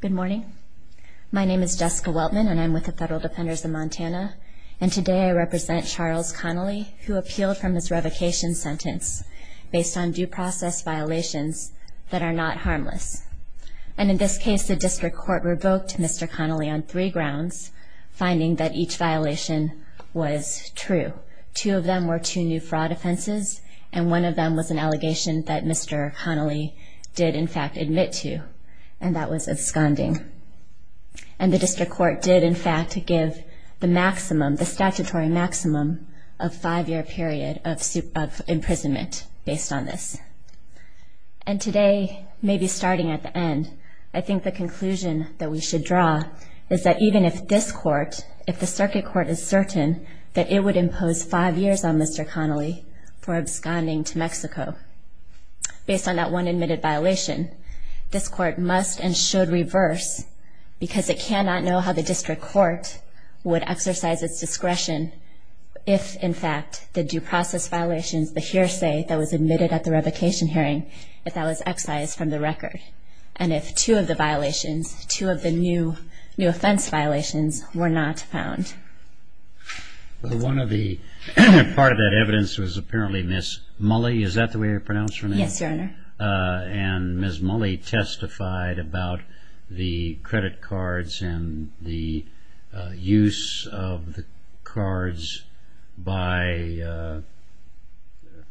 Good morning. My name is Jessica Weltman, and I'm with the Federal Defenders of Montana, and today I represent Charles Connelly, who appealed from his revocation sentence based on due process violations that are not harmless. And in this case, the district court revoked Mr. Connelly on three grounds, finding that each violation was true. Two of them were two new fraud offenses, and one of them was an allegation that Mr. Connelly did in fact admit to, and that was absconding. And the district court did in fact give the maximum, the statutory maximum, of five year period of imprisonment based on this. And today, maybe starting at the end, I think the conclusion that we should draw is that even if this court, if the circuit court is certain that it would impose five years on Mr. Connelly for absconding to Mexico, based on that one admitted violation, this court must and should reverse, because it cannot know how the district court would exercise its discretion if in fact the due process violations, the hearsay that was admitted at the revocation hearing, if that was excised from the record. And if two of the violations, two of the new offense violations, were not found. Well, one of the, part of that evidence was apparently Ms. Mulley, is that the way you pronounce her name? Yes, Your Honor. And Ms. Mulley testified about the credit cards and the use of the cards by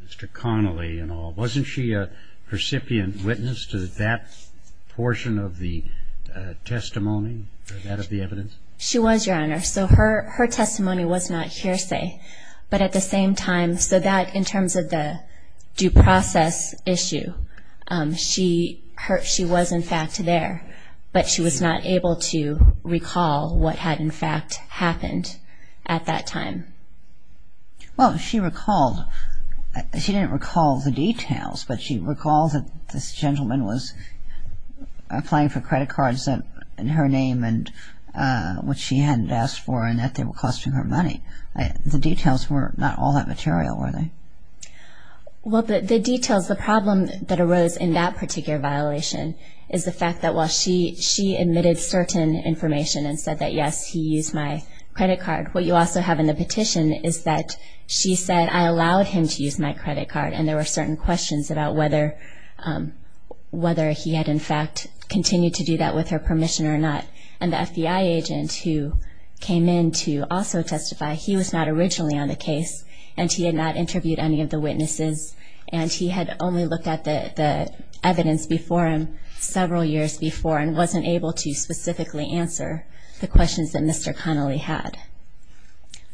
Mr. Connelly and all. Wasn't she a recipient witness to that portion of the testimony, that of the evidence? She was, Your Honor. So her testimony was not hearsay, but at the same time, so that in terms of the due process issue, she was in fact there, but she was not able to recall what had in fact happened at that time. Well, she recalled, she didn't recall the details, but she recalled that this gentleman was applying for credit cards in her name and which she hadn't asked for and that they were costing her money. The details were not all that material, were they? Well, the details, the problem that arose in that particular violation is the fact that while she admitted certain information and said that, yes, he used my credit card, what you also have in the petition is that she said, I allowed him to use my credit card. And there were certain questions about whether he had in fact continued to do that with her permission or not. And the FBI agent who came in to also testify, he was not originally on the case, and he had not interviewed any of the witnesses, and he had only looked at the evidence before him several years before and wasn't able to specifically answer the questions that Mr. Connelly had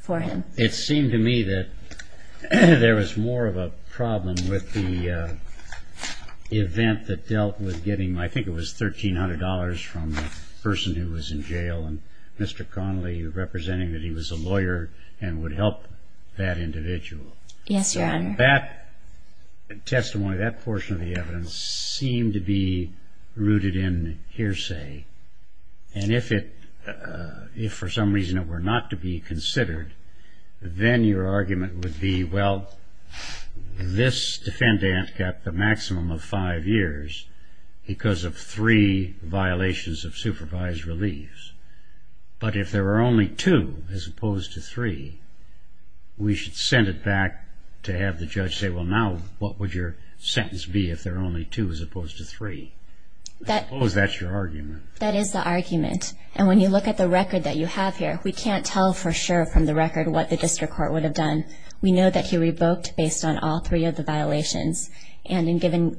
for him. It seemed to me that there was more of a problem with the event that dealt with getting, I think it was $1,300 from the person who was in jail, and Mr. Connelly representing that he was a lawyer and would help that individual. Yes, Your Honor. That testimony, that portion of the evidence seemed to be rooted in hearsay. And if it, if for some reason it were not to be considered, then your argument would be, well, this defendant got the maximum of five years because of three violations of supervised reliefs. But if there were only two as opposed to three, we should send it back to have the judge say, well, now what would your sentence be if there were only two as opposed to three? I suppose that's your argument. That is the argument. And when you look at the record that you have here, we can't tell for sure from the record what the district court would have done. We know that he revoked based on all three of the violations. And in giving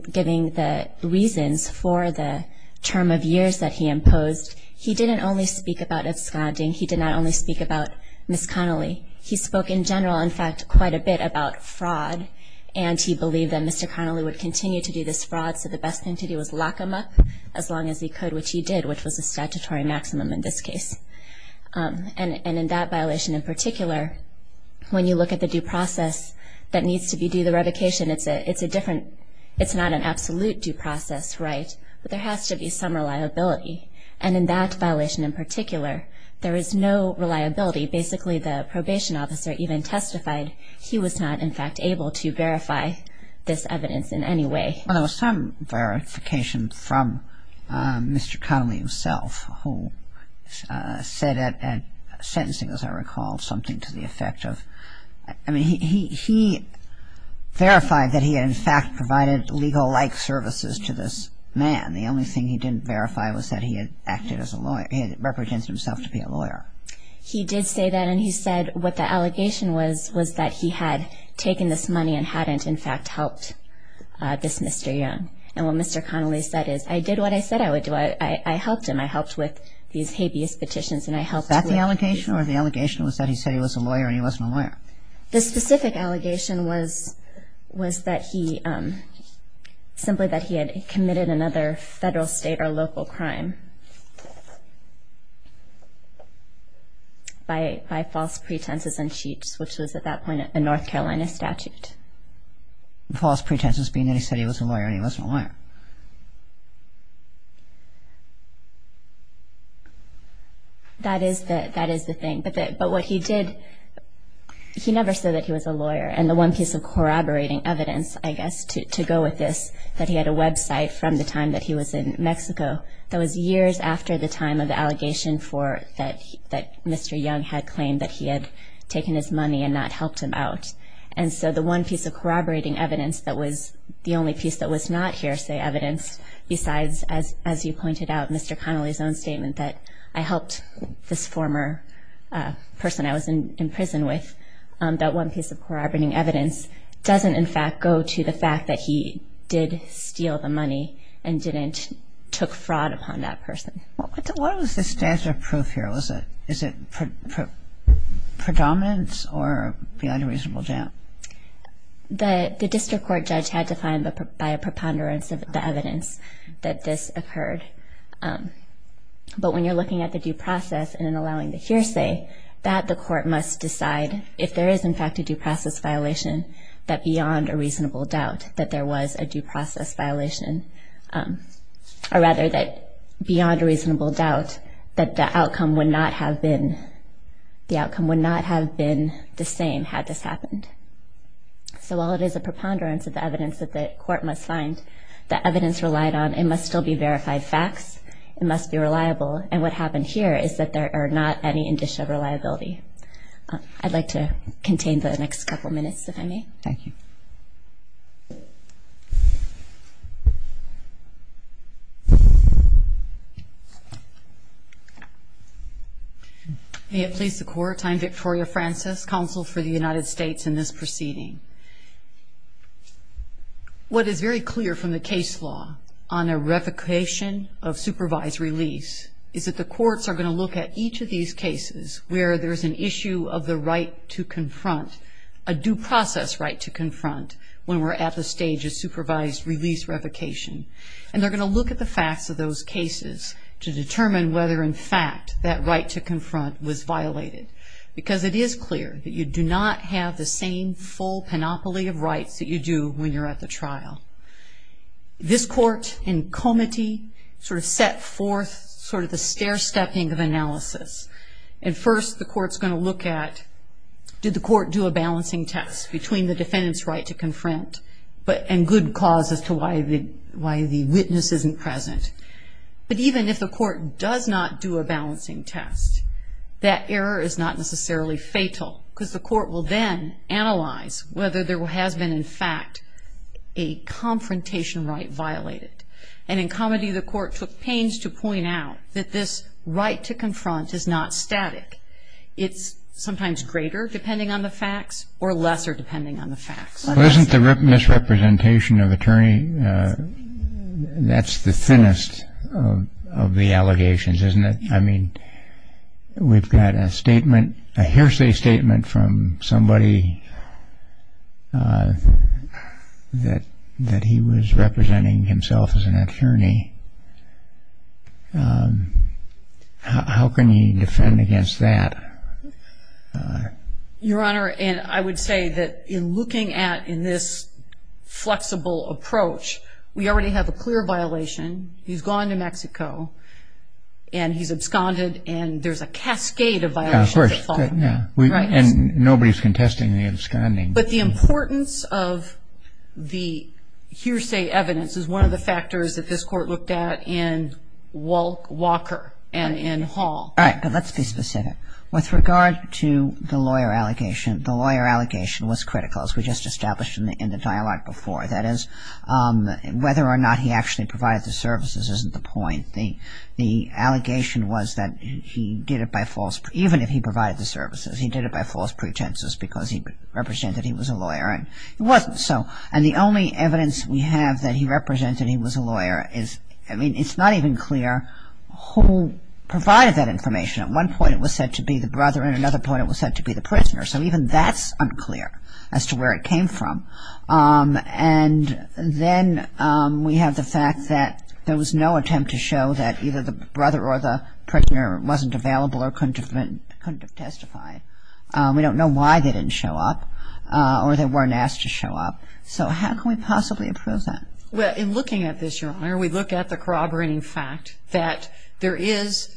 the reasons for the term of years that he imposed, he didn't only speak about absconding. He did not only speak about Ms. Connelly. He spoke in general, in fact, quite a bit about fraud, and he believed that Mr. Connelly would continue to do this fraud, so the best thing to do was lock him up as long as he could, which he did, which was a statutory maximum in this case. And in that violation in particular, when you look at the due process that needs to be due, the revocation, it's a different – it's not an absolute due process, right, but there has to be some reliability. And in that violation in particular, there is no reliability. Basically, the probation officer even testified he was not, in fact, able to verify this evidence in any way. Well, there was some verification from Mr. Connelly himself who said at sentencing, as I recall, something to the effect of – I mean, he verified that he had, in fact, provided legal-like services to this man. The only thing he didn't verify was that he had acted as a lawyer – he had represented himself to be a lawyer. He did say that, and he said what the allegation was was that he had taken this money and hadn't, in fact, helped this Mr. Young. And what Mr. Connelly said is, I did what I said I would do. I helped him. I helped with these habeas petitions, and I helped with – he said he was a lawyer, and he wasn't a lawyer. The specific allegation was that he – simply that he had committed another federal, state, or local crime by false pretenses and cheats, which was at that point a North Carolina statute. False pretenses being that he said he was a lawyer, and he wasn't a lawyer. That is the thing, but what he did – he never said that he was a lawyer. And the one piece of corroborating evidence, I guess, to go with this, that he had a website from the time that he was in Mexico, that was years after the time of the allegation for – that Mr. Young had claimed that he had taken his money and not helped him out. And so the one piece of corroborating evidence that was – the only piece that was not hearsay evidence, besides, as you pointed out, Mr. Connelly's own statement that I helped this former person I was in prison with, that one piece of corroborating evidence doesn't, in fact, go to the fact that he did steal the money and didn't – took fraud upon that person. What was the statute of proof here? Was it – is it predominance or beyond a reasonable doubt? The district court judge had to find, by a preponderance of the evidence, that this occurred. But when you're looking at the due process and then allowing the hearsay, that the court must decide, if there is, in fact, a due process violation, that beyond a reasonable doubt that there was a due process violation. Or rather, that beyond a reasonable doubt that the outcome would not have been – the outcome would not have been the same had this happened. So while it is a preponderance of the evidence that the court must find, the evidence relied on, it must still be verified facts. It must be reliable. And what happened here is that there are not any indicia of reliability. I'd like to contain the next couple minutes, if I may. Thank you. May it please the Court. I'm Victoria Francis, Counsel for the United States in this proceeding. What is very clear from the case law on a revocation of supervised release is that the courts are going to look at each of these cases where there's an issue of the right to confront, a due process right to confront, when we're at the stage of supervised release revocation. And they're going to look at the facts of those cases to determine whether, in fact, that right to confront was violated. Because it is clear that you do not have the same full panoply of rights that you do when you're at the trial. This court, in comity, sort of set forth sort of the stair-stepping of analysis. And first the court's going to look at did the court do a balancing test between the defendant's right to confront and good cause as to why the witness isn't present. But even if the court does not do a balancing test, that error is not necessarily fatal, because the court will then analyze whether there has been, in fact, a confrontation right violated. And in comity, the court took pains to point out that this right to confront is not static. It's sometimes greater, depending on the facts, or lesser, depending on the facts. Well, isn't the misrepresentation of attorney, that's the thinnest of the allegations, isn't it? I mean, we've got a statement, a hearsay statement from somebody that he was representing himself as an attorney. How can he defend against that? Your Honor, I would say that in looking at, in this flexible approach, we already have a clear violation. He's gone to Mexico, and he's absconded, and there's a cascade of violations that follow. And nobody's contesting the absconding. But the importance of the hearsay evidence is one of the factors that this court looked at in Walker and in Hall. All right, but let's be specific. With regard to the lawyer allegation, the lawyer allegation was critical, as we just established in the dialogue before. That is, whether or not he actually provided the services isn't the point. The allegation was that he did it by false, even if he provided the services, he did it by false pretenses because he represented he was a lawyer, and it wasn't so. And the only evidence we have that he represented he was a lawyer is, I mean, it's not even clear who provided that information. At one point it was said to be the brother, and at another point it was said to be the prisoner. So even that's unclear as to where it came from. And then we have the fact that there was no attempt to show that either the brother or the prisoner wasn't available or couldn't have testified. We don't know why they didn't show up or they weren't asked to show up. So how can we possibly approve that? Well, in looking at this, Your Honor, we look at the corroborating fact that there is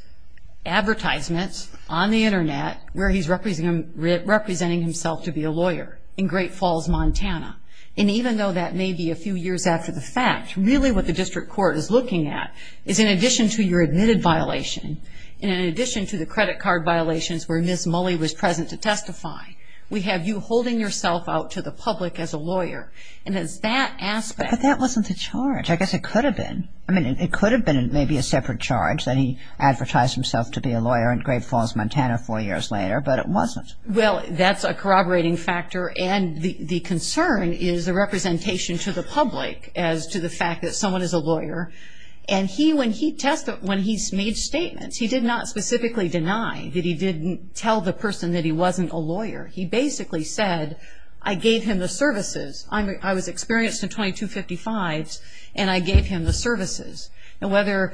advertisements on the Internet where he's representing himself to be a lawyer in Great Falls, Montana. And even though that may be a few years after the fact, really what the district court is looking at is in addition to your admitted violation and in addition to the credit card violations where Ms. Mully was present to testify, we have you holding yourself out to the public as a lawyer. And it's that aspect. But that wasn't the charge. I guess it could have been. I mean, it could have been maybe a separate charge that he advertised himself to be a lawyer in Great Falls, Montana four years later, but it wasn't. Well, that's a corroborating factor. And the concern is the representation to the public as to the fact that someone is a lawyer. And when he made statements, he did not specifically deny that he didn't tell the person that he wasn't a lawyer. He basically said, I gave him the services. I was experienced in 2255s, and I gave him the services. And whether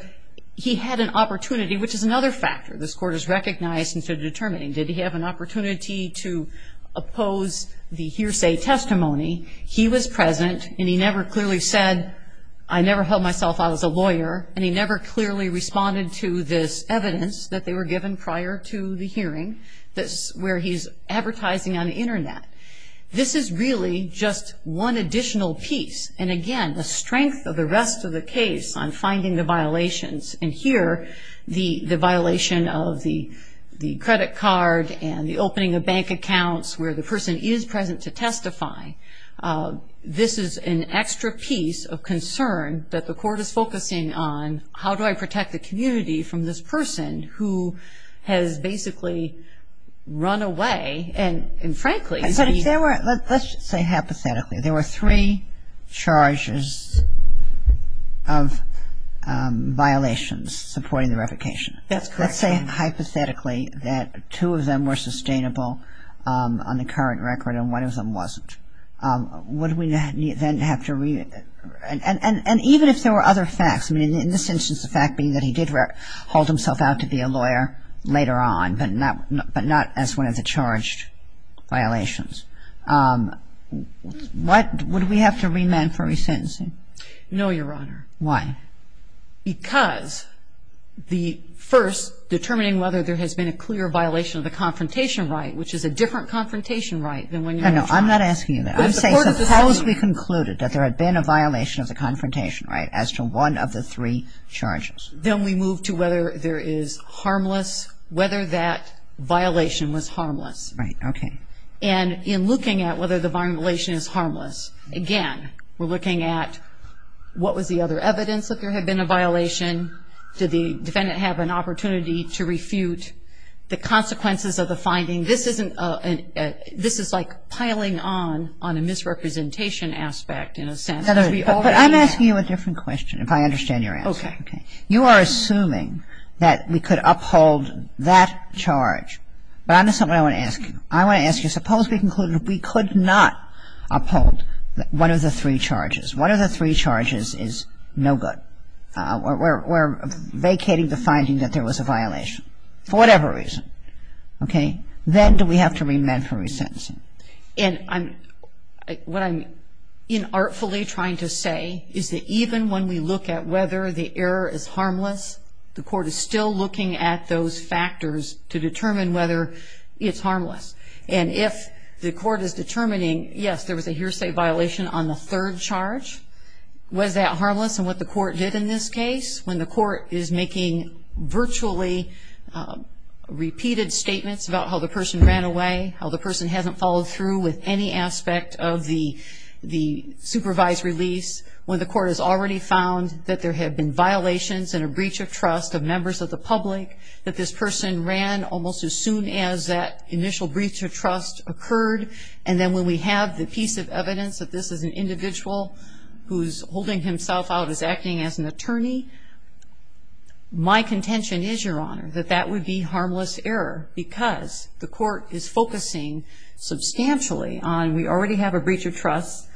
he had an opportunity, which is another factor this Court has recognized in determining did he have an opportunity to oppose the hearsay testimony, he was present and he never clearly said, I never held myself out as a lawyer, and he never clearly responded to this evidence that they were given prior to the hearing, where he's advertising on the Internet. This is really just one additional piece. And, again, the strength of the rest of the case on finding the violations, and here the violation of the credit card and the opening of bank accounts where the person is present to testify, this is an extra piece of concern that the Court is focusing on, how do I protect the community from this person who has basically run away and, frankly, Let's say hypothetically there were three charges of violations supporting the revocation. That's correct. Let's say hypothetically that two of them were sustainable on the current record and one of them wasn't. Would we then have to, and even if there were other facts, I mean in this instance the fact being that he did hold himself out to be a lawyer later on, but not as one of the charged violations. Would we have to remand for resentencing? No, Your Honor. Why? Because the first, determining whether there has been a clear violation of the confrontation right, which is a different confrontation right than when you were charged. No, no, I'm not asking you that. I'm saying suppose we concluded that there had been a violation of the confrontation right as to one of the three charges. Then we move to whether there is harmless, whether that violation was harmless. Right. Okay. And in looking at whether the violation is harmless, again, we're looking at what was the other evidence that there had been a violation, did the defendant have an opportunity to refute the consequences of the finding. This is like piling on on a misrepresentation aspect in a sense. But I'm asking you a different question if I understand your answer. Okay. You are assuming that we could uphold that charge. But I understand what I want to ask you. I want to ask you, suppose we concluded we could not uphold one of the three charges. One of the three charges is no good. We're vacating the finding that there was a violation for whatever reason. Okay. Then do we have to remand for resentencing? And what I'm inartfully trying to say is that even when we look at whether the error is harmless, the court is still looking at those factors to determine whether it's harmless. And if the court is determining, yes, there was a hearsay violation on the third charge, was that harmless in what the court did in this case? When the court is making virtually repeated statements about how the person ran away, how the person hasn't followed through with any aspect of the supervised release, when the court has already found that there have been violations and a breach of trust of members of the public, that this person ran almost as soon as that initial breach of trust occurred, and then when we have the piece of evidence that this is an individual who's holding himself out that that would be harmless error because the court is focusing substantially on, we already have a breach of trust,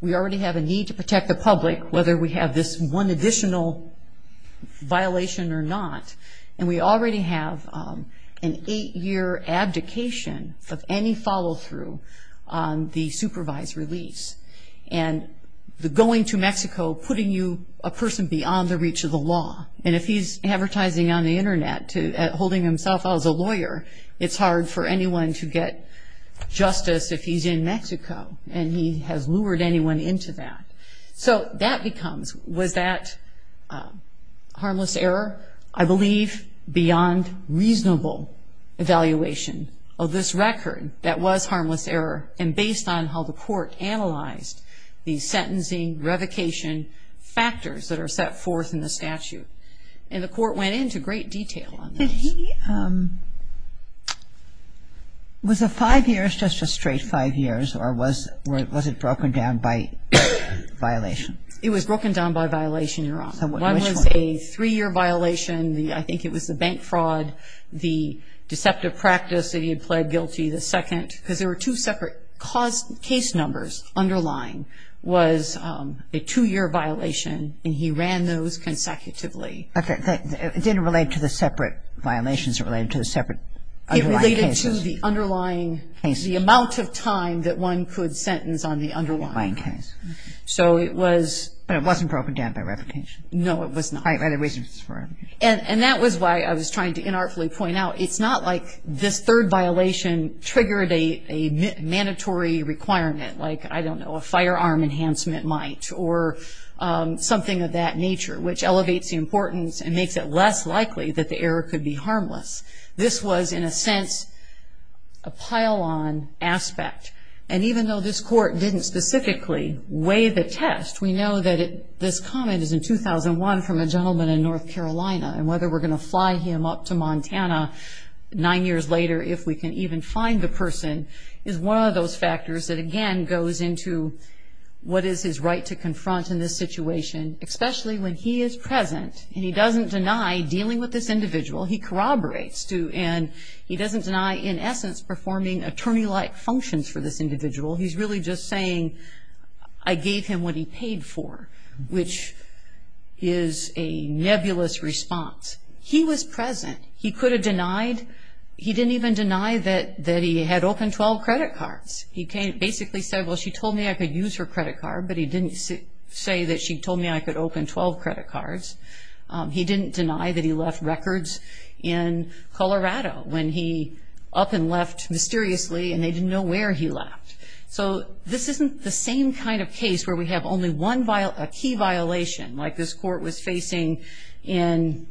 we already have a need to protect the public, whether we have this one additional violation or not, and we already have an eight-year abdication of any follow-through on the supervised release. And the going to Mexico, putting you, a person beyond the reach of the law, and if he's advertising on the Internet holding himself out as a lawyer, it's hard for anyone to get justice if he's in Mexico and he has lured anyone into that. So that becomes, was that harmless error? I believe beyond reasonable evaluation of this record that was harmless error, factors that are set forth in the statute. And the court went into great detail on this. Did he, was the five years just a straight five years, or was it broken down by violation? It was broken down by violation, Your Honor. Which one? One was a three-year violation. I think it was the bank fraud, the deceptive practice that he had pled guilty. The second, because there were two separate case numbers underlying, was a two-year violation, and he ran those consecutively. Okay. It didn't relate to the separate violations. It related to the separate underlying cases. It related to the underlying, the amount of time that one could sentence on the underlying case. So it was. But it wasn't broken down by replication. No, it was not. And that was why I was trying to inartfully point out, it's not like this third violation triggered a mandatory requirement, like, I don't know, a firearm enhancement might, or something of that nature, which elevates the importance and makes it less likely that the error could be harmless. This was, in a sense, a pile-on aspect. And even though this court didn't specifically weigh the test, we know that this comment is in 2001 from a gentleman in North Carolina, and whether we're going to fly him up to Montana nine years later, if we can even find the person, is one of those factors that, again, goes into what is his right to confront in this situation, especially when he is present and he doesn't deny dealing with this individual, he corroborates to, and he doesn't deny in essence performing attorney-like functions for this individual. He's really just saying, I gave him what he paid for, which is a nebulous response. He was present. He could have denied, he didn't even deny that he had opened 12 credit cards. He basically said, well, she told me I could use her credit card, but he didn't say that she told me I could open 12 credit cards. He didn't deny that he left records in Colorado when he up and left mysteriously and they didn't know where he left. So this isn't the same kind of case where we have only one key violation, like this court was facing in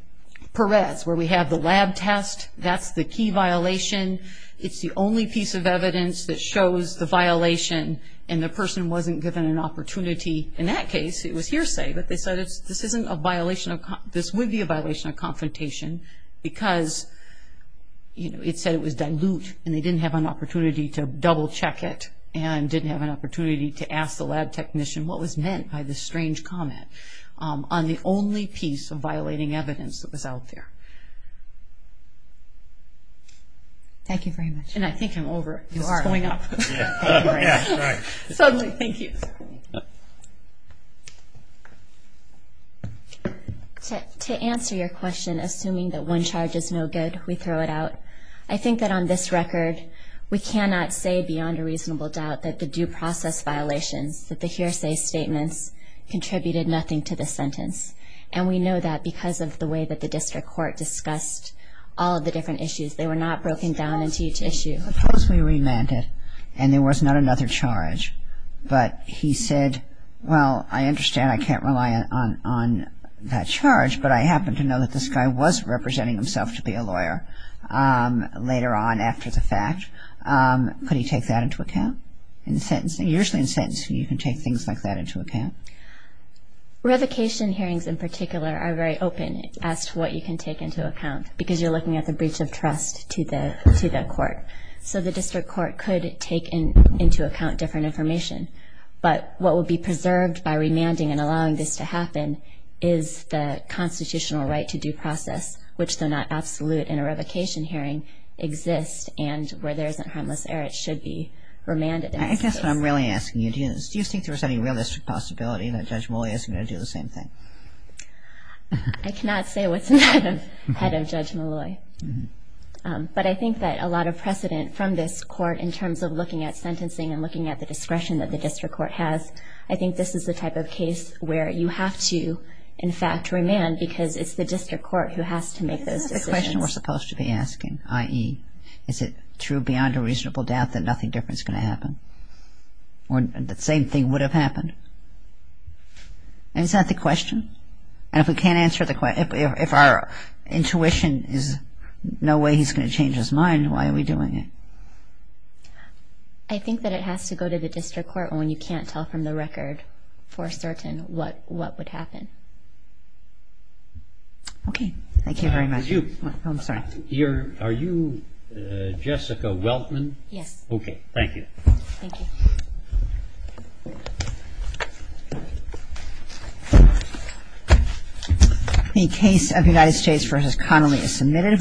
Perez where we have the lab test. That's the key violation. It's the only piece of evidence that shows the violation and the person wasn't given an opportunity. In that case, it was hearsay, but they said this would be a violation of confrontation because it said it was dilute and they didn't have an opportunity to double check it and didn't have an opportunity to ask the lab technician what was meant by this strange comment on the only piece of violating evidence that was out there. Thank you very much. And I think I'm over it. You are. This is going up. Yeah, right. Suddenly, thank you. To answer your question, assuming that one charge is no good, we throw it out. I think that on this record, we cannot say beyond a reasonable doubt that the due process violations, that the hearsay statements, contributed nothing to the sentence. And we know that because of the way that the district court discussed all of the different issues. They were not broken down into each issue. Supposedly, we meant it and there was not another charge, but he said, well, I understand I can't rely on that charge, but I happen to know that this guy was representing himself to be a lawyer later on after the fact. Could he take that into account in sentencing? Usually in sentencing, you can take things like that into account. Revocation hearings in particular are very open as to what you can take into account because you're looking at the breach of trust to the court. So the district court could take into account different information. But what would be preserved by remanding and allowing this to happen is the constitutional right to due process, which though not absolute in a revocation hearing, exists and where there isn't harmless error, it should be remanded in this case. I guess what I'm really asking you is, do you think there's any realistic possibility that Judge Molloy isn't going to do the same thing? I cannot say what's in the head of Judge Molloy. But I think that a lot of precedent from this court in terms of looking at sentencing and looking at the discretion that the district court has, I think this is the type of case where you have to, in fact, remand because it's the district court who has to make those decisions. Isn't that the question we're supposed to be asking, i.e., is it true beyond a reasonable doubt that nothing different is going to happen, Isn't that the question? And if we can't answer the question, if our intuition is no way he's going to change his mind, why are we doing it? I think that it has to go to the district court when you can't tell from the record for certain what would happen. Okay. Thank you very much. Are you Jessica Weltman? Yes. Okay. Thank you. Thank you. The case of United States v. Connolly is submitted.